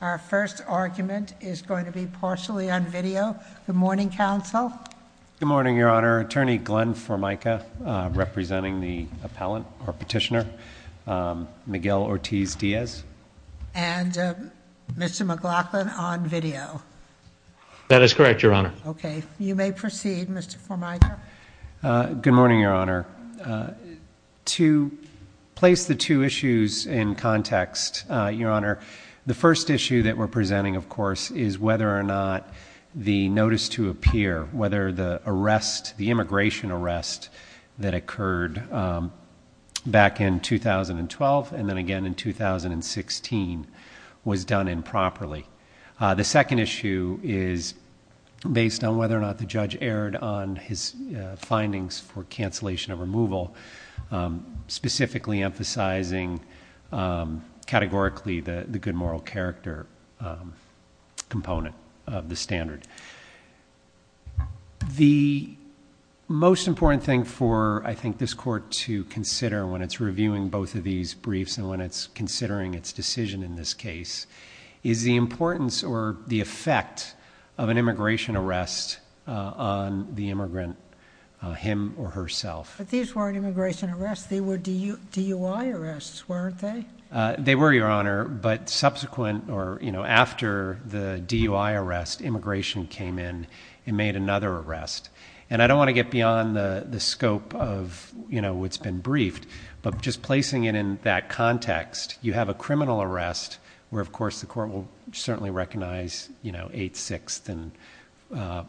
Our first argument is going to be partially on video. Good morning, counsel. Good morning, Your Honor. Attorney Glenn Formica representing the appellant or petitioner, Miguel Ortiz-Diaz. And Mr. McLaughlin on video. That is correct, Your Honor. Okay. You may proceed, Mr. Formica. Good morning, Your Honor. To place the two issues in context, Your Honor, the first issue that we're presenting, of course, is whether or not the notice to appear, whether the arrest, the immigration arrest that occurred back in 2012 and then again in 2016, was done improperly. The second issue is based on whether or not the judge erred on his findings for cancellation of removal, specifically emphasizing categorically the good moral character component of the standard. The most important thing for, I think, this Court to consider when it's reviewing both of these briefs and when it's considering its decision in this case is the importance or the effect of an immigration arrest on the immigrant, him or herself. But these weren't immigration arrests. They were DUI arrests, weren't they? They were, Your Honor, but subsequent or, you know, after the DUI arrest, immigration came in and made another arrest. And I don't want to get beyond the scope of, you know, what's been briefed, but just placing it in that context, you have a criminal arrest where, of course, the Court will certainly recognize, you know, Eighth, Sixth, and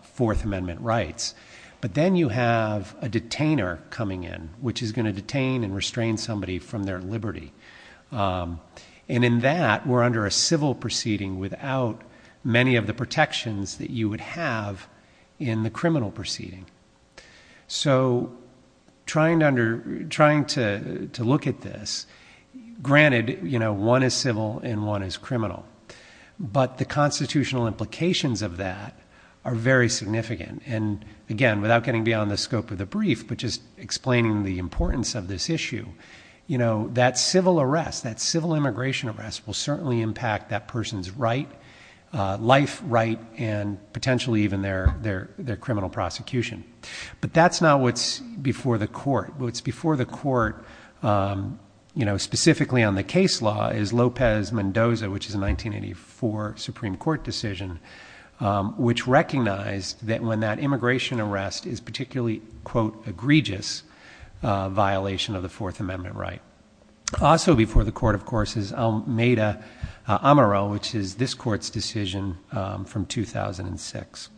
Fourth Amendment rights. But then you have a detainer coming in, which is going to detain and restrain somebody from their liberty. And in that, we're under a civil proceeding without many of the protections that you would have in the criminal proceeding. So trying to look at this, granted, you know, one is civil and one is criminal, but the constitutional implications of that are very significant. And, again, without getting beyond the scope of the brief, but just explaining the importance of this issue, you know, that civil arrest, that civil immigration arrest will certainly impact that person's right, life right, and potentially even their criminal prosecution. But that's not what's before the court. What's before the court, you know, specifically on the case law is Lopez-Mendoza, which is a 1984 Supreme Court decision, which recognized that when that immigration arrest is particularly, quote, egregious violation of the Fourth Amendment right. Also before the court, of course, is Almeida-Amaro, which is this court's decision from 2006,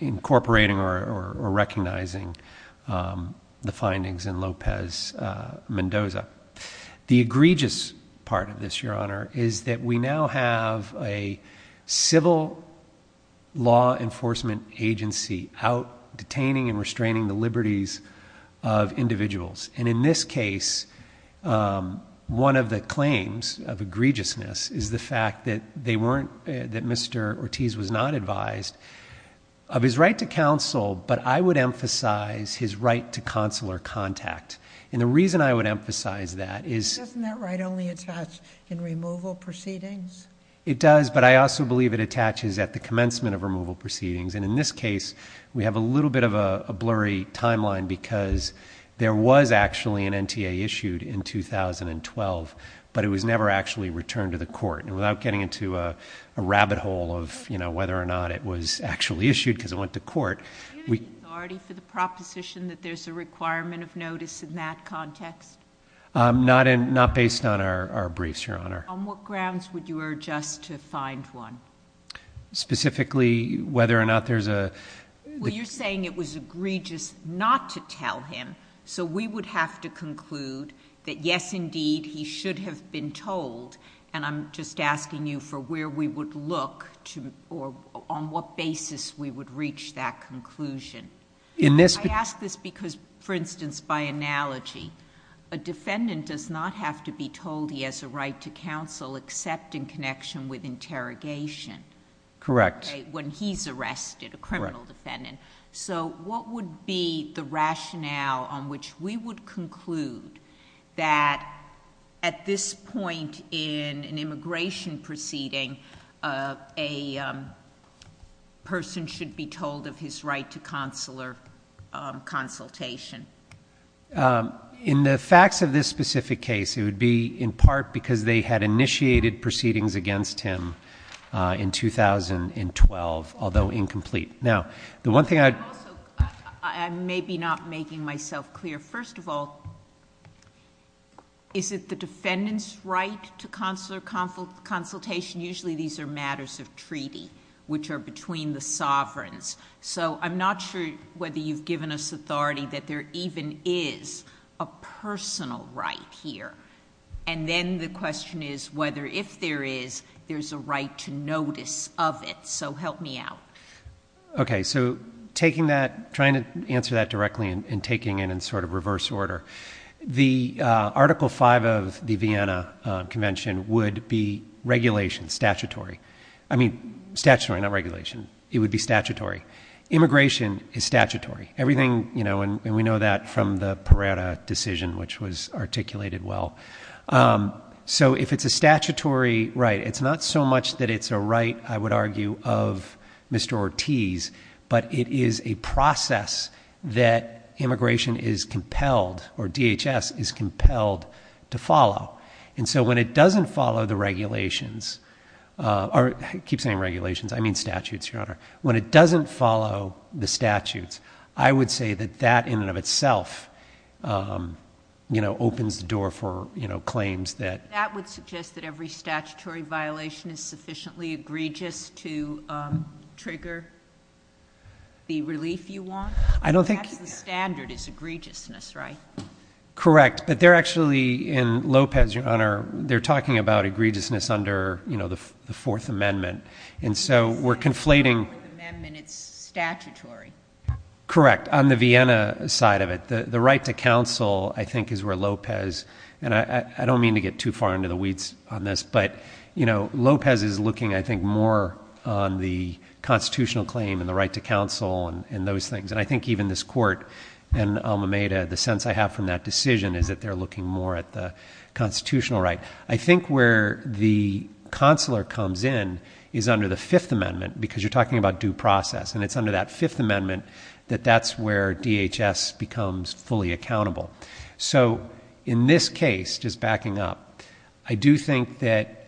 incorporating or recognizing the findings in Lopez-Mendoza. The egregious part of this, Your Honor, is that we now have a civil law enforcement agency out detaining and restraining the liberties of individuals. And in this case, one of the claims of egregiousness is the fact that they weren't, that Mr. Ortiz was not advised of his right to counsel, but I would emphasize his right to counsel or contact. And the reason I would emphasize that is. Doesn't that right only attach in removal proceedings? It does, but I also believe it attaches at the commencement of removal proceedings. And in this case, we have a little bit of a blurry timeline because there was actually an NTA issued in 2012, but it was never actually returned to the court. And without getting into a rabbit hole of, you know, whether or not it was actually issued because it went to court. Do you have the authority for the proposition that there's a requirement of notice in that context? Not based on our briefs, Your Honor. On what grounds would you urge us to find one? Specifically, whether or not there's a. Well, you're saying it was egregious not to tell him. So we would have to conclude that yes, indeed, he should have been told. And I'm just asking you for where we would look to, or on what basis we would reach that conclusion. I ask this because, for instance, by analogy, a defendant does not have to be told he has a right to counsel except in connection with interrogation. Correct. When he's arrested, a criminal defendant. Correct. So what would be the rationale on which we would conclude that at this point in an immigration proceeding, a person should be told of his right to consular consultation? In the facts of this specific case, it would be in part because they had initiated proceedings against him in 2012, although incomplete. Now, the one thing I... Also, I may be not making myself clear. First of all, is it the defendant's right to consular consultation? Usually these are matters of treaty, which are between the sovereigns. So I'm not sure whether you've given us authority that there even is a personal right here. And then the question is whether, if there is, there's a right to notice of it. So help me out. Okay. So trying to answer that directly and taking it in sort of reverse order, the Article V of the Vienna Convention would be regulation, statutory. I mean, statutory, not regulation. It would be statutory. Immigration is statutory. Everything, you know, and we know that from the Pereira decision, which was articulated well. So if it's a statutory right, it's not so much that it's a right, I would argue, of Mr. Ortiz, but it is a process that immigration is compelled or DHS is compelled to follow. And so when it doesn't follow the regulations, or I keep saying regulations, I mean statutes, Your Honor, when it doesn't follow the statutes, I would say that that in and of itself, you know, opens the door for, you know, claims that. That would suggest that every statutory violation is sufficiently egregious to trigger the relief you want? I don't think. That's the standard is egregiousness, right? Correct. But they're actually, in Lopez, Your Honor, they're talking about egregiousness under, you know, the Fourth Amendment. And so we're conflating. The Fourth Amendment, it's statutory. Correct. On the Vienna side of it, the right to counsel, I think, is where Lopez, and I don't mean to get too far into the weeds on this, but, you know, Lopez is looking, I think, more on the constitutional claim and the right to counsel and those things. And I think even this Court in Alameda, the sense I have from that decision, is that they're looking more at the constitutional right. I think where the consular comes in is under the Fifth Amendment because you're talking about due process. And it's under that Fifth Amendment that that's where DHS becomes fully accountable. So in this case, just backing up, I do think that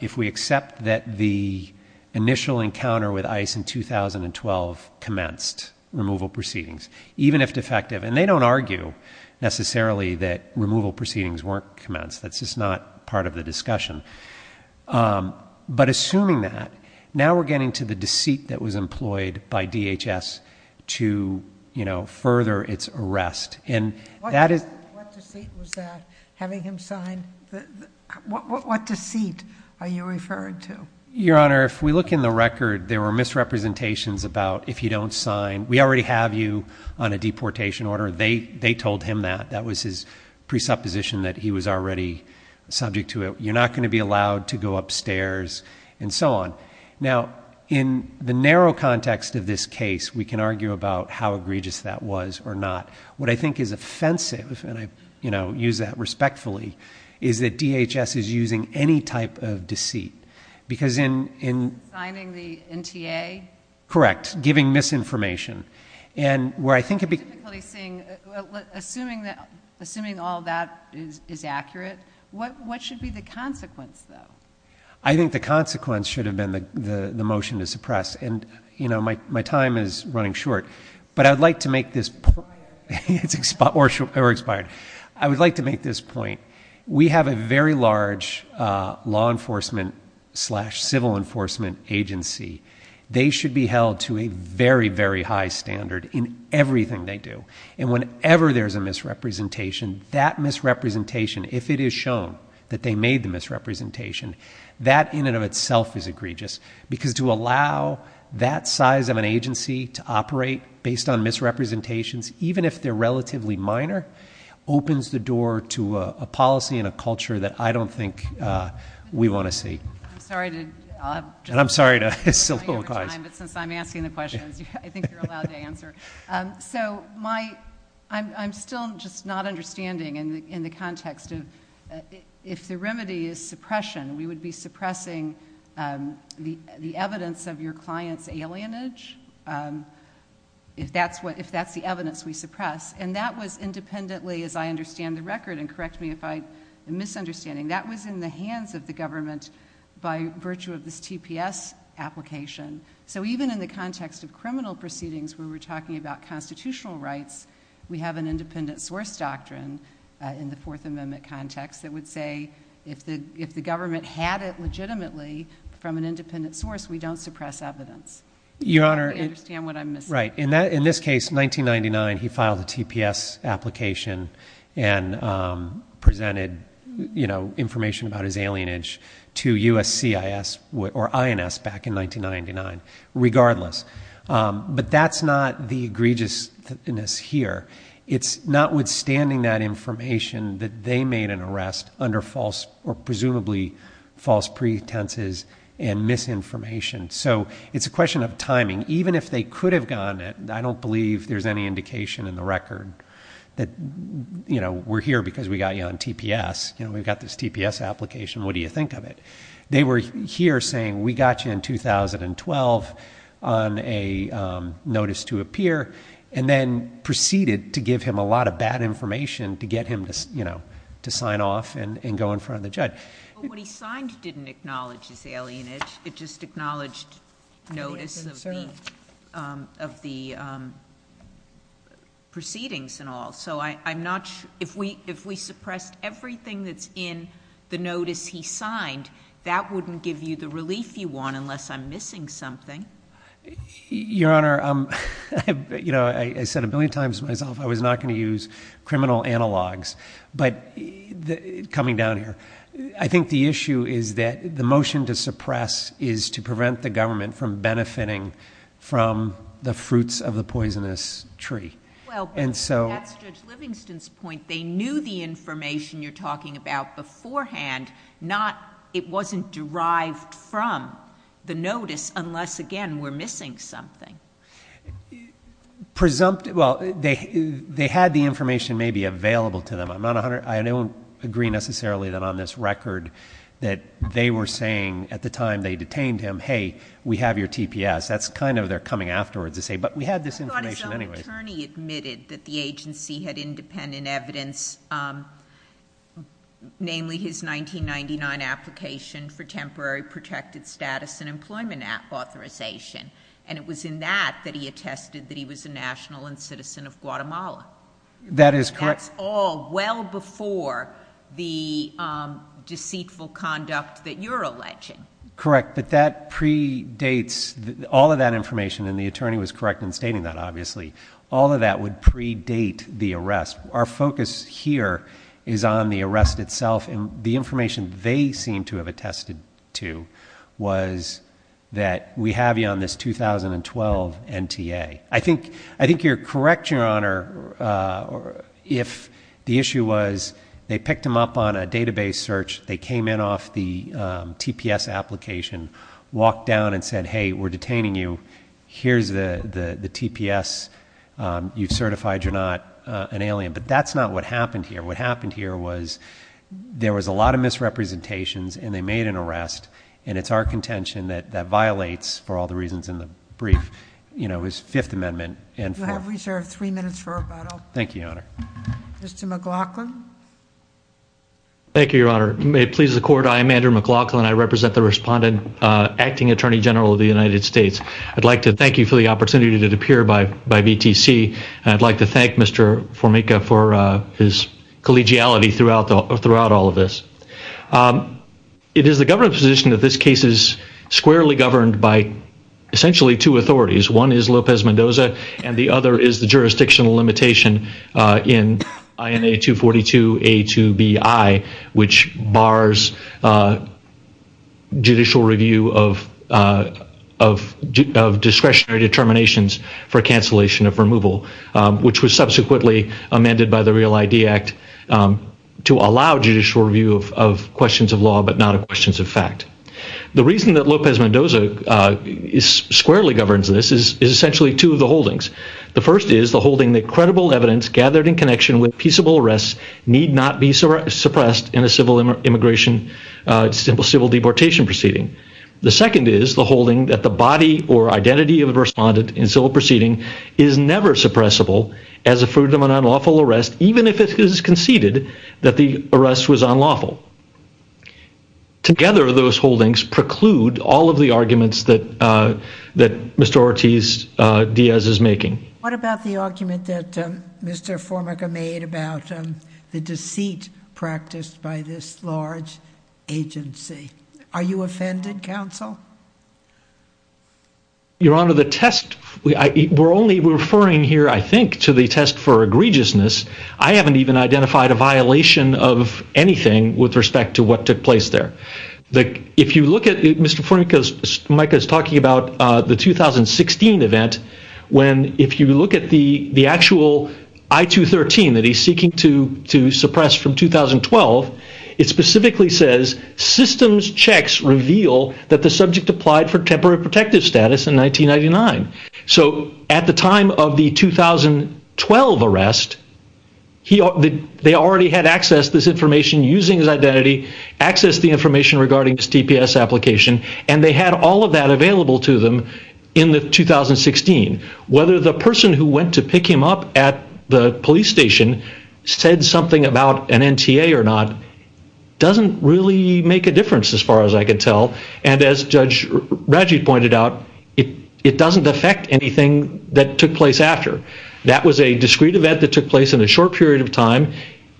if we accept that the initial encounter with ICE in 2012 commenced removal proceedings, even if defective, and they don't argue necessarily that removal proceedings weren't commenced. That's just not part of the discussion. But assuming that, now we're getting to the deceit that was employed by DHS to, you know, further its arrest. What deceit was that, having him sign? What deceit are you referring to? Your Honor, if we look in the record, there were misrepresentations about if you don't sign, we already have you on a deportation order. They told him that. That was his presupposition that he was already subject to it. You're not going to be allowed to go upstairs, and so on. Now, in the narrow context of this case, we can argue about how egregious that was or not. What I think is offensive, and I, you know, use that respectfully, is that DHS is using any type of deceit. Because in... Signing the NTA? Correct. Giving misinformation. And where I think it... I'm typically seeing, assuming all that is accurate, what should be the consequence, though? I think the consequence should have been the motion to suppress. And, you know, my time is running short. But I would like to make this point. It's expired. I would like to make this point. We have a very large law enforcement slash civil enforcement agency. They should be held to a very, very high standard in everything they do. And whenever there's a misrepresentation, that misrepresentation, if it is shown that they made the misrepresentation, that in and of itself is egregious. Because to allow that size of an agency to operate based on misrepresentations, even if they're relatively minor, opens the door to a policy and a culture that I don't think we want to see. I'm sorry to... And I'm sorry to... Since I'm asking the questions, I think you're allowed to answer. So my... I'm still just not understanding in the context of... The remedy is suppression. We would be suppressing the evidence of your client's alienage if that's the evidence we suppress. And that was independently, as I understand the record, and correct me if I'm misunderstanding, that was in the hands of the government by virtue of this TPS application. So even in the context of criminal proceedings where we're talking about constitutional rights, we have an independent source doctrine in the Fourth Amendment context that would say if the government had it legitimately from an independent source, we don't suppress evidence. Your Honor... I don't understand what I'm missing. Right. In this case, 1999, he filed a TPS application and presented, you know, information about his alienage to USCIS or INS back in 1999 regardless. But that's not the egregiousness here. It's notwithstanding that information that they made an arrest under false or presumably false pretenses and misinformation. So it's a question of timing. Even if they could have gone... I don't believe there's any indication in the record that, you know, we're here because we got you on TPS. You know, we've got this TPS application. What do you think of it? They were here saying we got you in 2012 on a notice to appear and then proceeded to give him a lot of bad information to get him to sign off and go in front of the judge. What he signed didn't acknowledge his alienage. It just acknowledged notice of the proceedings and all. If we suppressed everything that's in the notice he signed, that wouldn't give you the relief you want unless I'm missing something. Your Honor, you know, I said a billion times to myself I was not going to use criminal analogs. But coming down here, I think the issue is that the motion to suppress is to prevent the government from benefiting from the fruits of the poisonous tree. Well, that's Judge Livingston's point. They knew the information you're talking about beforehand. It wasn't derived from the notice unless, again, we're missing something. Well, they had the information maybe available to them. I don't agree necessarily that on this record that they were saying at the time they detained him, hey, we have your TPS. That's kind of their coming afterwards to say, but we had this information anyway. I thought his own attorney admitted that the agency had independent evidence, namely his 1999 application for temporary protected status and employment authorization. And it was in that that he attested that he was a national and citizen of Guatemala. That is correct. That's all well before the deceitful conduct that you're alleging. Correct, but that predates all of that information, and the attorney was correct in stating that, obviously. All of that would predate the arrest. Our focus here is on the arrest itself, and the information they seem to have attested to was that we have you on this 2012 NTA. I think you're correct, Your Honor, if the issue was they picked him up on a database search, they came in off the TPS application, walked down and said, hey, we're detaining you. Here's the TPS. You've certified you're not an alien. But that's not what happened here. What happened here was there was a lot of misrepresentations, and they made an arrest, and it's our contention that that violates, for all the reasons in the brief, his Fifth Amendment. You have reserved three minutes for rebuttal. Thank you, Your Honor. Mr. McLaughlin. Thank you, Your Honor. May it please the Court, I am Andrew McLaughlin. I represent the Respondent Acting Attorney General of the United States. I'd like to thank you for the opportunity to appear by VTC, and I'd like to thank Mr. Formica for his collegiality throughout all of this. It is the government position that this case is squarely governed by essentially two authorities. One is Lopez Mendoza, and the other is the jurisdictional limitation in INA242A2BI, which bars judicial review of discretionary determinations for cancellation of removal, which was subsequently amended by the Real ID Act to allow judicial review of questions of law but not of questions of fact. The reason that Lopez Mendoza squarely governs this is essentially two of the holdings. The first is the holding that credible evidence gathered in connection with peaceable arrests need not be suppressed in a civil immigration, civil deportation proceeding. The second is the holding that the body or identity of the respondent in civil proceeding is never suppressible as a fruit of an unlawful arrest, even if it is conceded that the arrest was unlawful. Together, those holdings preclude all of the arguments that Mr. Ortiz-Diaz is making. What about the argument that Mr. Formica made about the deceit practiced by this large agency? Are you offended, counsel? Your Honor, the test—we're only referring here, I think, to the test for egregiousness. I haven't even identified a violation of anything with respect to what took place there. If you look at—Mr. Formica is talking about the 2016 event, when if you look at the actual I-213 that he's seeking to suppress from 2012, it specifically says, systems checks reveal that the subject applied for temporary protective status in 1999. So at the time of the 2012 arrest, they already had access to this information using his identity, access to the information regarding his TPS application, and they had all of that available to them in 2016. Whether the person who went to pick him up at the police station said something about an NTA or not doesn't really make a difference as far as I can tell. And as Judge Rajit pointed out, it doesn't affect anything that took place after. That was a discrete event that took place in a short period of time.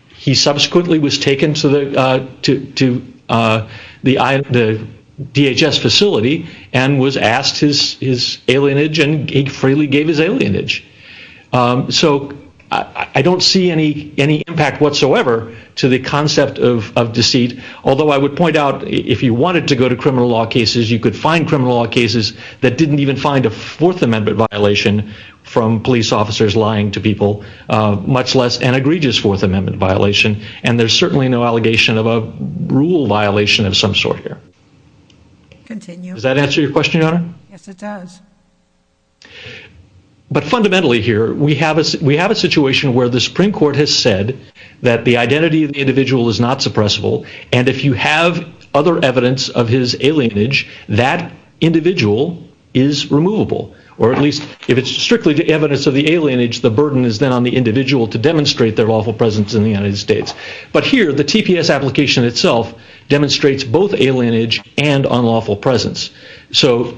He subsequently was taken to the DHS facility and was asked his alienage, and he freely gave his alienage. So I don't see any impact whatsoever to the concept of deceit, although I would point out, if you wanted to go to criminal law cases, you could find criminal law cases that didn't even find a Fourth Amendment violation from police officers lying to people, much less an egregious Fourth Amendment violation. And there's certainly no allegation of a rule violation of some sort here. Does that answer your question, Your Honor? Yes, it does. But fundamentally here, we have a situation where the Supreme Court has said that the identity of the individual is not suppressible, and if you have other evidence of his alienage, that individual is removable. Or at least, if it's strictly evidence of the alienage, the burden is then on the individual to demonstrate their lawful presence in the United States. But here, the TPS application itself demonstrates both alienage and unlawful presence. So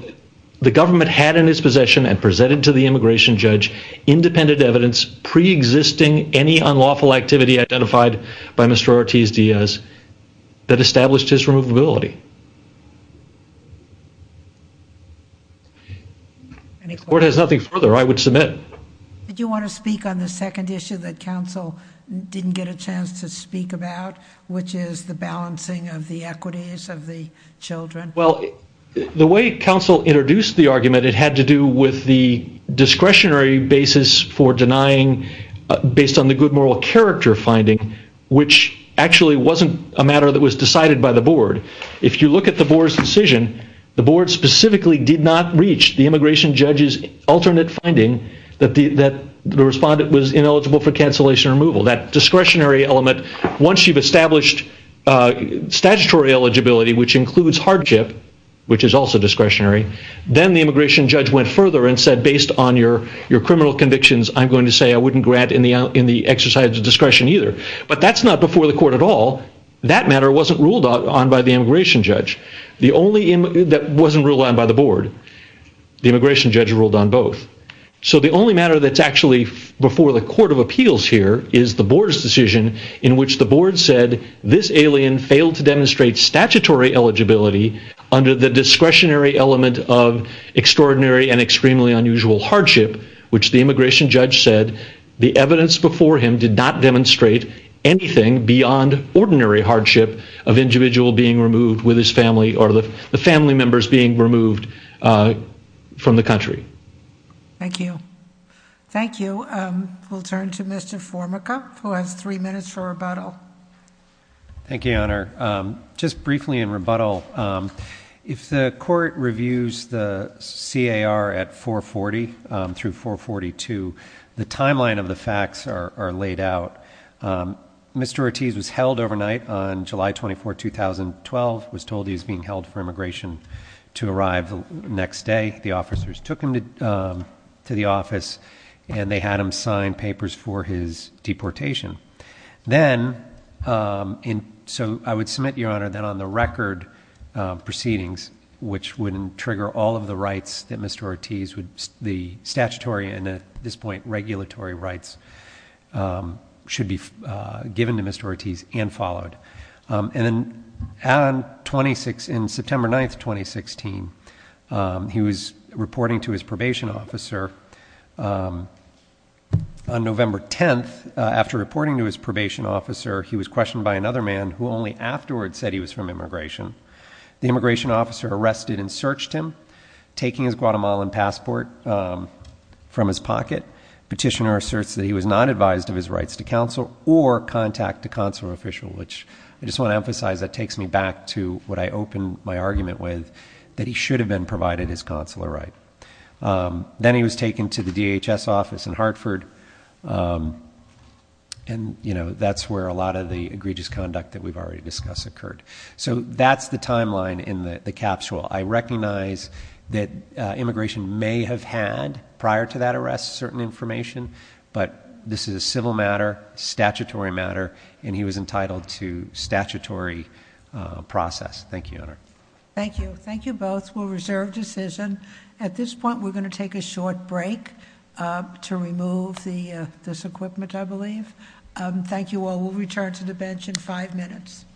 the government had in its possession and presented to the immigration judge independent evidence preexisting any unlawful activity identified by Mr. Ortiz-Diaz that established his removability. If the Court has nothing further, I would submit. Did you want to speak on the second issue that counsel didn't get a chance to speak about, which is the balancing of the equities of the children? Well, the way counsel introduced the argument, it had to do with the discretionary basis for denying based on the good moral character finding, which actually wasn't a matter that was decided by the Board. If you look at the Board's decision, the Board specifically did not reach the immigration judge's alternate finding that the respondent was ineligible for cancellation or removal. That discretionary element, once you've established statutory eligibility, which includes hardship, which is also discretionary, then the immigration judge went further and said based on your criminal convictions, I'm going to say I wouldn't grant in the exercise of discretion either. But that's not before the Court at all. That matter wasn't ruled on by the immigration judge. That wasn't ruled on by the Board. The immigration judge ruled on both. So the only matter that's actually before the Court of Appeals here is the Board's decision in which the Board said this alien failed to demonstrate statutory eligibility under the discretionary element of extraordinary and extremely unusual hardship, which the immigration judge said the evidence before him did not demonstrate anything beyond ordinary hardship of an individual being removed with his family or the family members being removed from the country. Thank you. Thank you. We'll turn to Mr. Formica, who has three minutes for rebuttal. Thank you, Your Honor. Just briefly in rebuttal, if the court reviews the CAR at 440 through 442, the timeline of the facts are laid out. Mr. Ortiz was held overnight on July 24, 2012, was told he was being held for immigration to arrive the next day. The officers took him to the office, and they had him sign papers for his deportation. Then, so I would submit, Your Honor, that on the record proceedings, which would trigger all of the rights that Mr. Ortiz, the statutory and at this point regulatory rights, should be given to Mr. Ortiz and followed. And then on September 9, 2016, he was reporting to his probation officer. On November 10, after reporting to his probation officer, he was questioned by another man who only afterward said he was from immigration. The immigration officer arrested and searched him, taking his Guatemalan passport from his pocket. Petitioner asserts that he was not advised of his rights to counsel or contact a consular official, which I just want to emphasize that takes me back to what I opened my argument with, that he should have been provided his consular right. Then he was taken to the DHS office in Hartford, and that's where a lot of the egregious conduct that we've already discussed occurred. So that's the timeline in the capsule. I recognize that immigration may have had, prior to that arrest, certain information, but this is a civil matter, statutory matter, and he was entitled to statutory process. Thank you, Your Honor. Thank you. Thank you both. We'll reserve decision. At this point, we're going to take a short break to remove this equipment, I believe. Thank you all. We'll return to the bench in five minutes.